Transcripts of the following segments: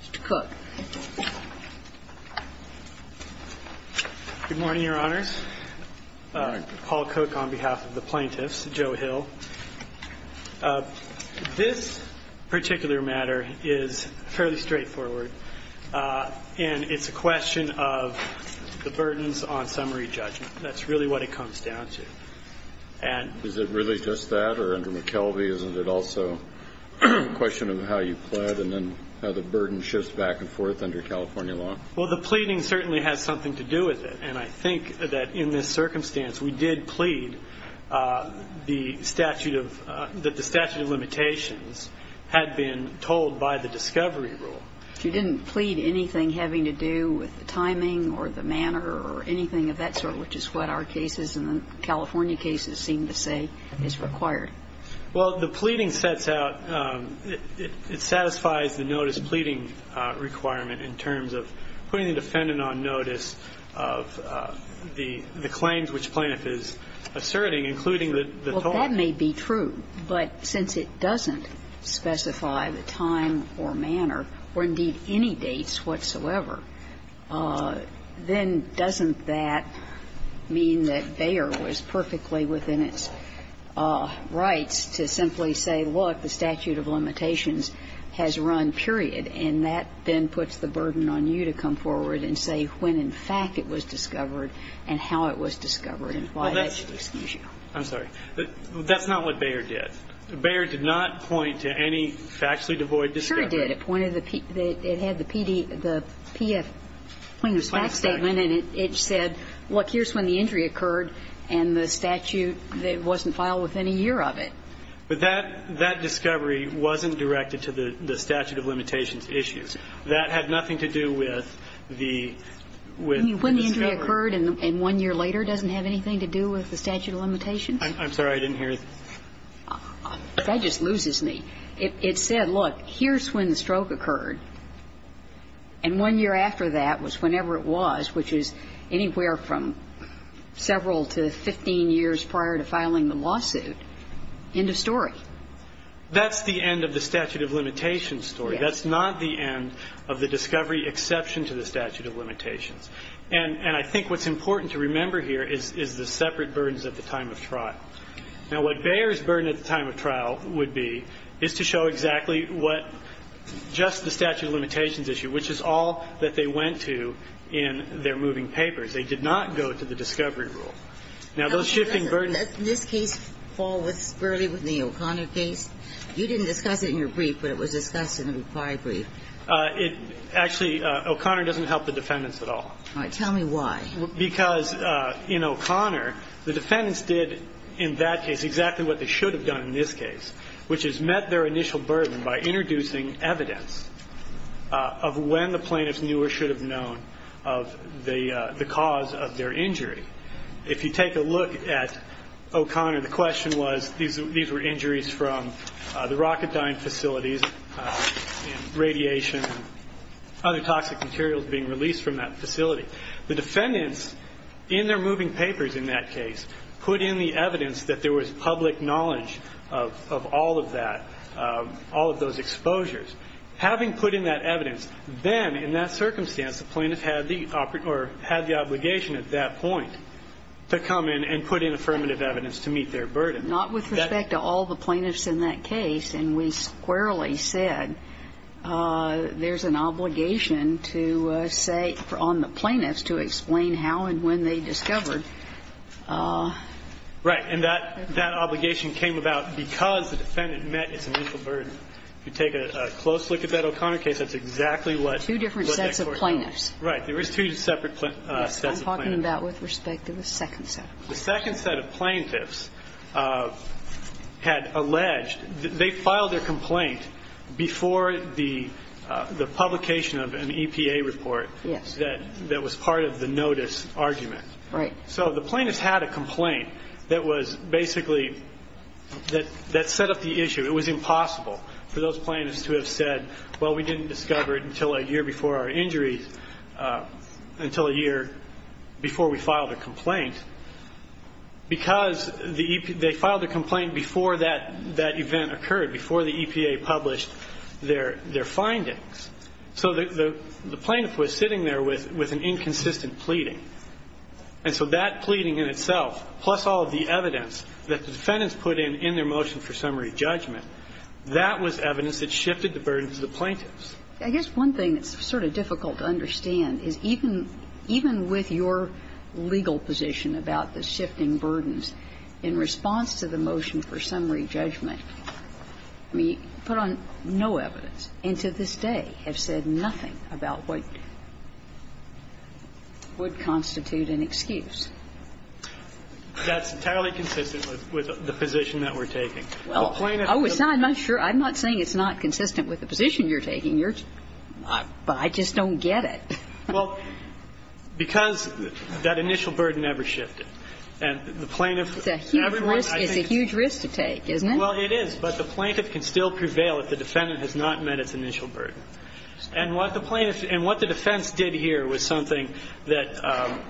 Mr. Cook. Good morning, Your Honors. Paul Cook on behalf of the plaintiffs. Joe Hill. This particular matter is fairly straightforward. And it's a question of the burdens on summary judgment. That's really what it comes down to. Is it really just that? Or under McKelvey, isn't it also a question of how you plead and then how the burden shifts back and forth under California law? Well, the pleading certainly has something to do with it. And I think that in this circumstance we did plead that the statute of limitations had been told by the discovery rule. You didn't plead anything having to do with the timing or the manner or anything of that sort, which is what our cases and the California cases seem to say is required. Well, the pleading sets out, it satisfies the notice pleading requirement in terms of putting the defendant on notice of the claims which plaintiff is asserting, including the total. Well, that may be true. But since it doesn't specify the time or manner or, indeed, any dates whatsoever, then doesn't that mean that Bayer was perfectly within its rights to simply say, look, the statute of limitations has run, period. And that then puts the burden on you to come forward and say when, in fact, it was discovered and how it was discovered and why that should excuse you. I'm sorry. That's not what Bayer did. Bayer did not point to any factually devoid discovery. Sure he did. It pointed to the PD, the PF plaintiff's fact statement. And it said, look, here's when the injury occurred and the statute wasn't filed within a year of it. But that discovery wasn't directed to the statute of limitations issues. That had nothing to do with the discovery. When the injury occurred and one year later doesn't have anything to do with the statute of limitations? I'm sorry. I didn't hear you. That just loses me. It said, look, here's when the stroke occurred. And one year after that was whenever it was, which is anywhere from several to 15 years prior to filing the lawsuit. End of story. That's the end of the statute of limitations story. That's not the end of the discovery exception to the statute of limitations. And I think what's important to remember here is the separate burdens at the time of trial. Now, what Bayer's burden at the time of trial would be is to show exactly what just the statute of limitations issue, which is all that they went to in their moving papers. They did not go to the discovery rule. Now, those shifting burdens ---- This case falls fairly within the O'Connor case. You didn't discuss it in your brief, but it was discussed in the required brief. Actually, O'Connor doesn't help the defendants at all. All right. Tell me why. Because in O'Connor, the defendants did in that case exactly what they should have done in this case, which is met their initial burden by introducing evidence of when the plaintiffs knew or should have known of the cause of their injury. If you take a look at O'Connor, the question was these were injuries from the rocket and radiation and other toxic materials being released from that facility. The defendants, in their moving papers in that case, put in the evidence that there was public knowledge of all of that, all of those exposures. Having put in that evidence, then, in that circumstance, the plaintiffs had the obligation at that point to come in and put in affirmative evidence to meet their burden. But not with respect to all the plaintiffs in that case. And we squarely said there's an obligation to say on the plaintiffs to explain how and when they discovered. Right. And that obligation came about because the defendant met its initial burden. If you take a close look at that O'Connor case, that's exactly what that court said. Two different sets of plaintiffs. Right. There was two separate sets of plaintiffs. I'm talking about with respect to the second set. The second set of plaintiffs had alleged that they filed their complaint before the publication of an EPA report. Yes. That was part of the notice argument. Right. So the plaintiffs had a complaint that was basically that set up the issue. It was impossible for those plaintiffs to have said, well, we didn't discover it until a year before our injuries, until a year before we filed a complaint. Because they filed a complaint before that event occurred, before the EPA published their findings. So the plaintiff was sitting there with an inconsistent pleading. And so that pleading in itself, plus all of the evidence that the defendants put in in their motion for summary judgment, that was evidence that shifted the burden to the plaintiffs. I guess one thing that's sort of difficult to understand is even with your legal position about the shifting burdens in response to the motion for summary judgment, I mean, you put on no evidence and to this day have said nothing about what would constitute an excuse. That's entirely consistent with the position that we're taking. Well, it's not. I'm not sure. I'm not saying it's not consistent with the position you're taking. But I just don't get it. Well, because that initial burden never shifted. It's a huge risk to take, isn't it? Well, it is. But the plaintiff can still prevail if the defendant has not met its initial burden. And what the defense did here was something that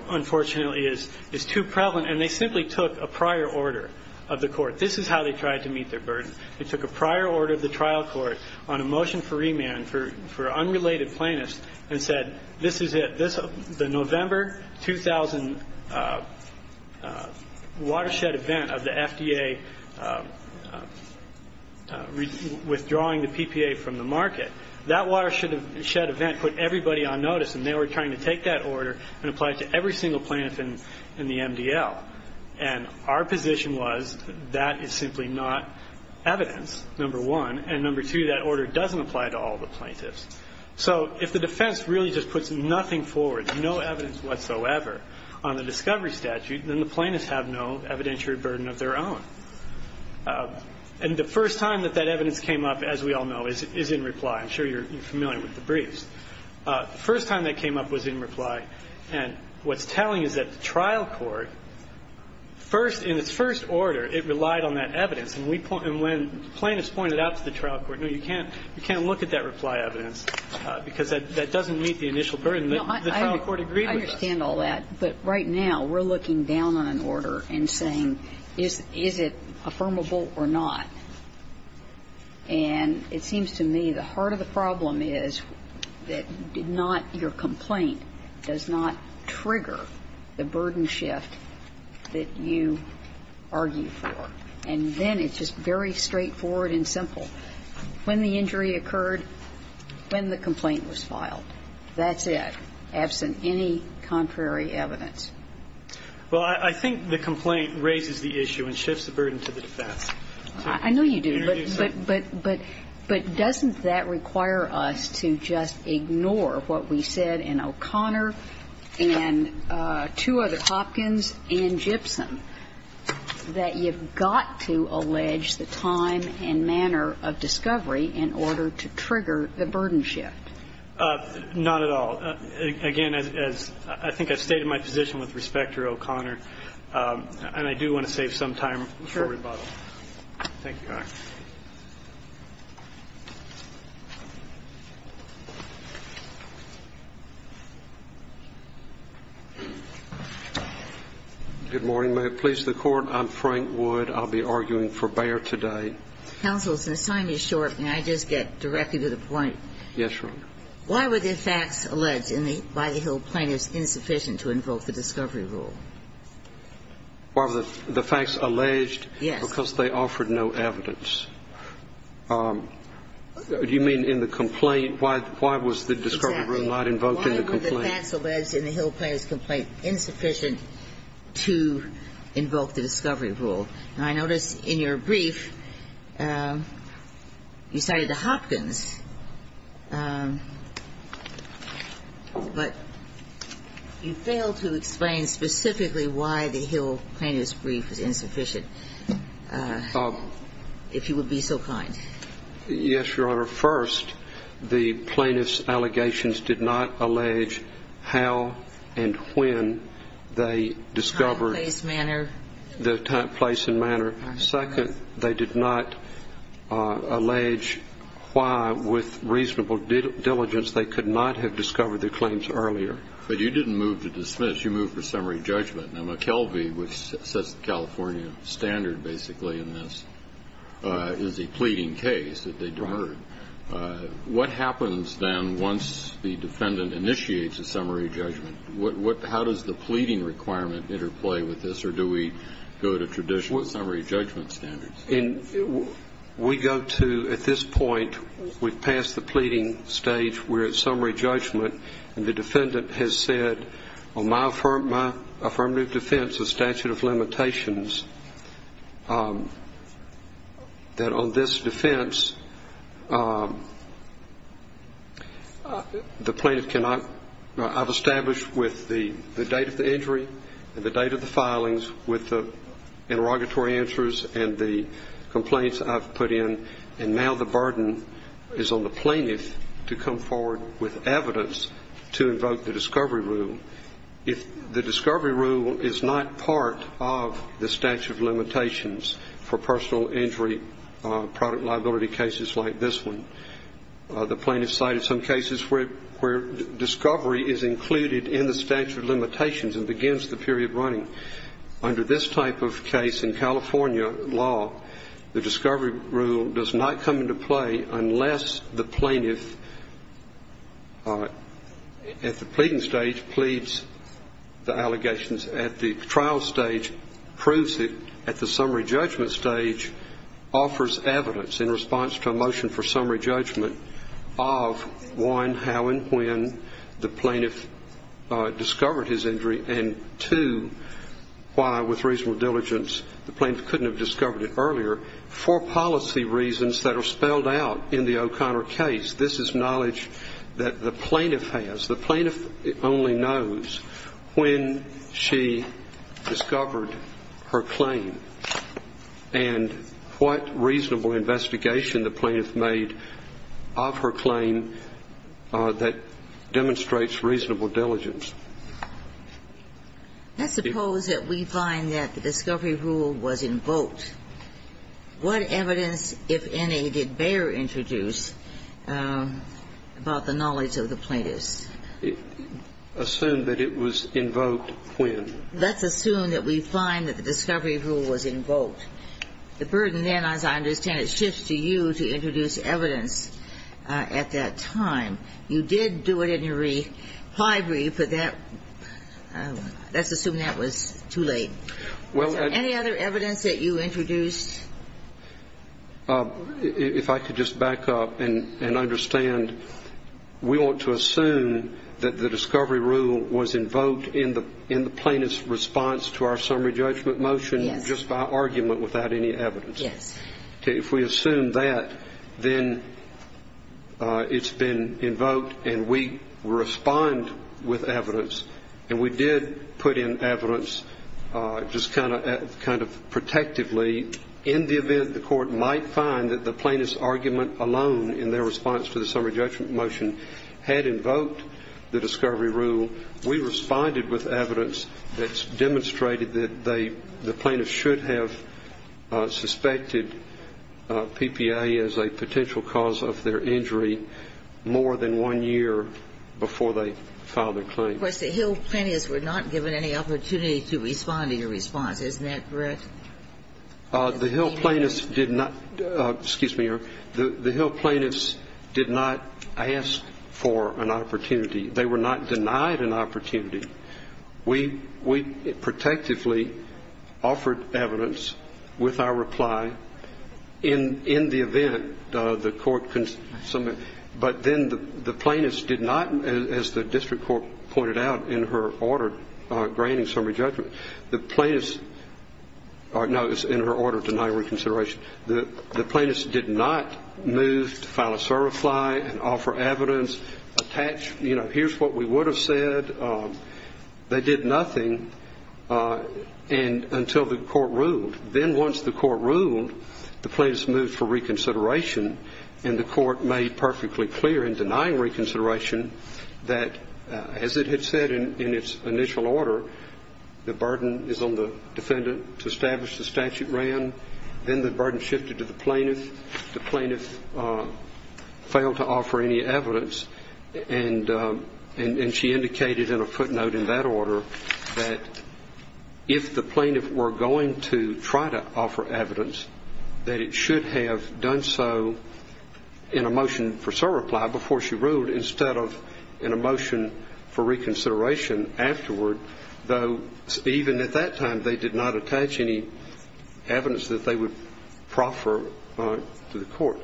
unfortunately is too prevalent. And they simply took a prior order of the Court. This is how they tried to meet their burden. They took a prior order of the trial court on a motion for remand for unrelated plaintiffs and said, this is it. The November 2000 watershed event of the FDA withdrawing the PPA from the market, that watershed event put everybody on notice, and they were trying to take that order and apply it to every single plaintiff in the MDL. And our position was that is simply not evidence, number one. And number two, that order doesn't apply to all the plaintiffs. So if the defense really just puts nothing forward, no evidence whatsoever on the discovery statute, then the plaintiffs have no evidentiary burden of their own. And the first time that that evidence came up, as we all know, is in reply. I'm sure you're familiar with the briefs. The first time that came up was in reply. And what's telling is that the trial court, first, in its first order, it relied on that evidence. And when plaintiffs pointed out to the trial court, no, you can't look at that reply evidence because that doesn't meet the initial burden. The trial court agreed with us. I understand all that. But right now, we're looking down on an order and saying, is it affirmable or not? the trial court does not trigger the burden shift that you argue for. And then it's just very straightforward and simple. When the injury occurred, when the complaint was filed, that's it, absent any contrary evidence. Well, I think the complaint raises the issue and shifts the burden to the defense. I know you do. But doesn't that require us to just ignore what we said in O'Connor and two other Hopkins and Gibson, that you've got to allege the time and manner of discovery in order to trigger the burden shift? Not at all. Again, as I think I've stated my position with respect to O'Connor, and I do want to save some time for rebuttal. Thank you, Your Honor. Good morning. May it please the Court. I'm Frank Wood. I'll be arguing for Bayer today. Counsel, since time is short, may I just get directly to the point? Yes, Your Honor. Why were the facts alleged in the By the Hill plaintiffs insufficient to invoke the discovery rule? Why were the facts alleged? Yes. Because they offered no evidence. Do you mean in the complaint? Why was the discovery rule not invoked in the complaint? Exactly. Why were the facts alleged in the Hill plaintiffs' complaint insufficient to invoke the discovery rule? Now, I notice in your brief, you cited the Hopkins, but you failed to explain specifically why the Hill plaintiffs' brief was insufficient. If you would be so kind. Yes, Your Honor. First, the plaintiffs' allegations did not allege how and when they discovered the place and manner. Second, they did not allege why, with reasonable diligence, they could not have discovered the claims earlier. But you didn't move to dismiss. You moved for summary judgment. Now, McKelvey, which sets the California standard basically in this, is a pleading case that they deferred. Right. What happens then once the defendant initiates a summary judgment? How does the pleading requirement interplay with this, or do we go to traditional summary judgment standards? We go to, at this point, we've passed the pleading stage. We're at summary judgment. And the defendant has said, on my affirmative defense, the statute of limitations, that on this defense, the plaintiff cannot, I've established with the date of the injury and the date of the filings with the interrogatory answers and the complaints I've put in, and now the burden is on the plaintiff to come forward with evidence to invoke the discovery rule. The discovery rule is not part of the statute of limitations for personal injury, product liability cases like this one. The plaintiff cited some cases where discovery is included in the statute of limitations and begins the period running. Under this type of case in California law, the discovery rule does not come into play unless the plaintiff, at the pleading stage, pleads the allegations. At the trial stage, proves it. At the summary judgment stage, offers evidence in response to a motion for summary judgment of, one, how and when the plaintiff discovered his injury, and, two, why with reasonable diligence the plaintiff couldn't have discovered it earlier for policy reasons that are spelled out in the O'Connor case. This is knowledge that the plaintiff has. The plaintiff only knows when she discovered her claim and what reasonable investigation the plaintiff made of her claim that demonstrates reasonable diligence. Let's suppose that we find that the discovery rule was invoked. What evidence, if any, did Bayer introduce about the knowledge of the plaintiffs? Assume that it was invoked when? Let's assume that we find that the discovery rule was invoked. The burden then, as I understand it, shifts to you to introduce evidence at that time. You did do it in your reply brief, but that's assuming that was too late. Is there any other evidence that you introduced? If I could just back up and understand. We want to assume that the discovery rule was invoked in the plaintiff's response to our summary judgment motion just by argument without any evidence. If we assume that, then it's been invoked and we respond with evidence. And we did put in evidence just kind of protectively in the event the Court might find that the plaintiff's argument alone in their response to the summary judgment motion had invoked the discovery rule. We responded with evidence that's demonstrated that the plaintiffs should have suspected PPA as a potential cause of their injury more than one year before they filed their claim. Of course, the Hill plaintiffs were not given any opportunity to respond in your response. Isn't that correct? The Hill plaintiffs did not ask for an opportunity. They were not denied an opportunity. We protectively offered evidence with our reply in the event the Court, but then the plaintiffs did not, as the district court pointed out in her order granting summary judgment, the plaintiffs, or no, it was in her order denying reconsideration, the plaintiffs did not move to file a certify and offer evidence, attach, you know, any evidence to that. Now, here's what we would have said. They did nothing until the Court ruled. Then once the Court ruled, the plaintiffs moved for reconsideration, and the Court made perfectly clear in denying reconsideration that, as it had said in its initial order, the burden is on the defendant to establish the statute ran. Then the burden shifted to the plaintiff. The plaintiff failed to offer any evidence, and she indicated in a footnote in that order that if the plaintiff were going to try to offer evidence, that it should have done so in a motion for surreply before she ruled instead of in a motion for reconsideration afterward, though even at that time they did not attach any evidence that they would proffer to the plaintiff. They did not attach any evidence that they would offer to the court.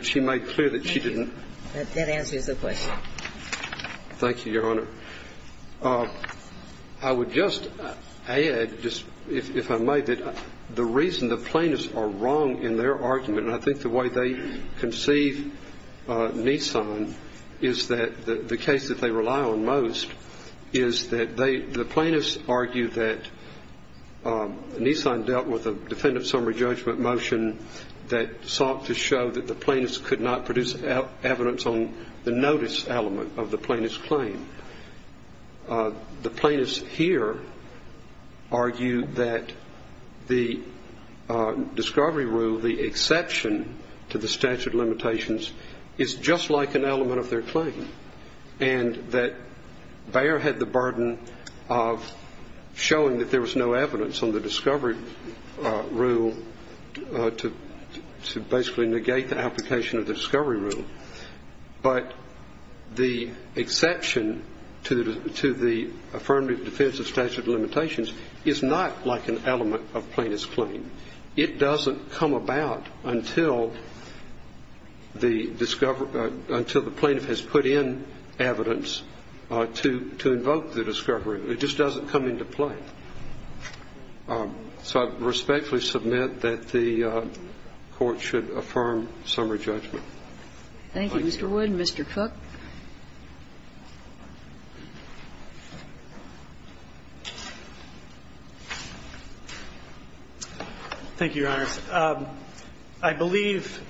But she made clear that she didn't. Thank you. That answers the question. Thank you, Your Honor. I would just add, just if I may, that the reason the plaintiffs are wrong in their argument, and I think the way they conceive Nissan is that the case that they rely on most is that the plaintiffs argue that Nissan dealt with a defendant summary judgment motion that sought to show that the plaintiffs could not produce evidence on the notice element of the plaintiff's claim. The plaintiffs here argue that the discovery rule, the exception to the statute of limitations, is just like an element of their claim, and that Bayer had the burden of showing that there was no evidence on the discovery rule to basically negate the application of the discovery rule. But the exception to the affirmative defense of statute of limitations is not like an element of plaintiff's claim. It doesn't come about until the plaintiff has put in a motion that states that the plaintiff could not produce evidence on the discovery rule. It just doesn't come into play. So I respectfully submit that the Court should affirm summary judgment. Thank you, Mr. Wood. Thank you, Your Honors. I believe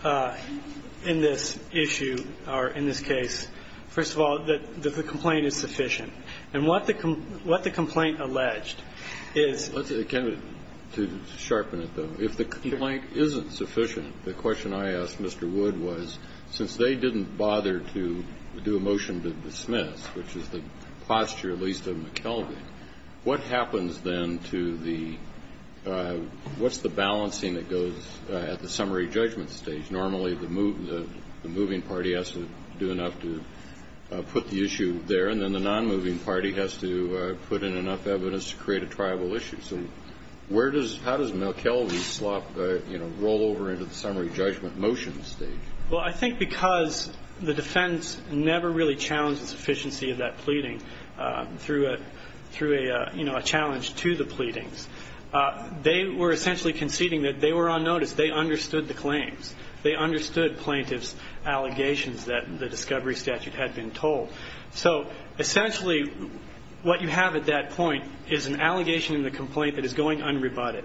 in this issue, or in this case, first of all, that the complaint is sufficient. And what the complaint alleged is the complaint is sufficient. The question I asked Mr. Wood was, since they didn't bother to do a motion to dismiss, which is the posture at least of McKelvey, what happens then to the what's the balancing that goes at the summary judgment stage? Normally, the moving party has to do enough to put the issue there, and then the nonmoving party has to put in enough evidence to create a triable issue. So where does, how does McKelvey roll over into the summary judgment motion stage? Well, I think because the defense never really challenged the sufficiency of that pleading through a challenge to the pleadings. They were essentially conceding that they were on notice. They understood the claims. They understood plaintiff's allegations that the discovery statute had been told. So essentially what you have at that point is an allegation in the complaint that is going unrebutted.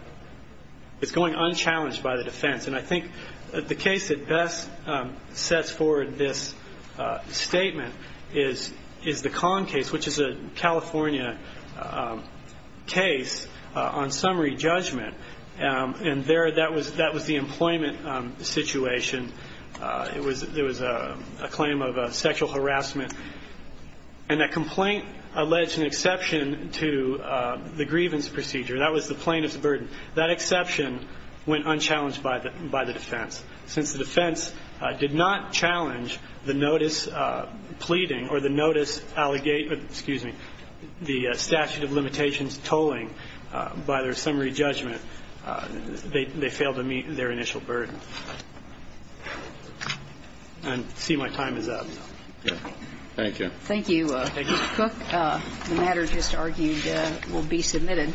It's going unchallenged by the defense. And I think the case that best sets forward this statement is the Kahn case, which is a California case on summary judgment. And there that was the employment situation. It was a claim of sexual harassment. And that complaint alleged an exception to the grievance procedure. That was the plaintiff's burden. That exception went unchallenged by the defense. Since the defense did not challenge the notice pleading or the notice, excuse me, the statute of limitations tolling by their summary judgment, they failed to meet their initial burden. I see my time is up. Thank you. Thank you. The matter just argued will be submitted.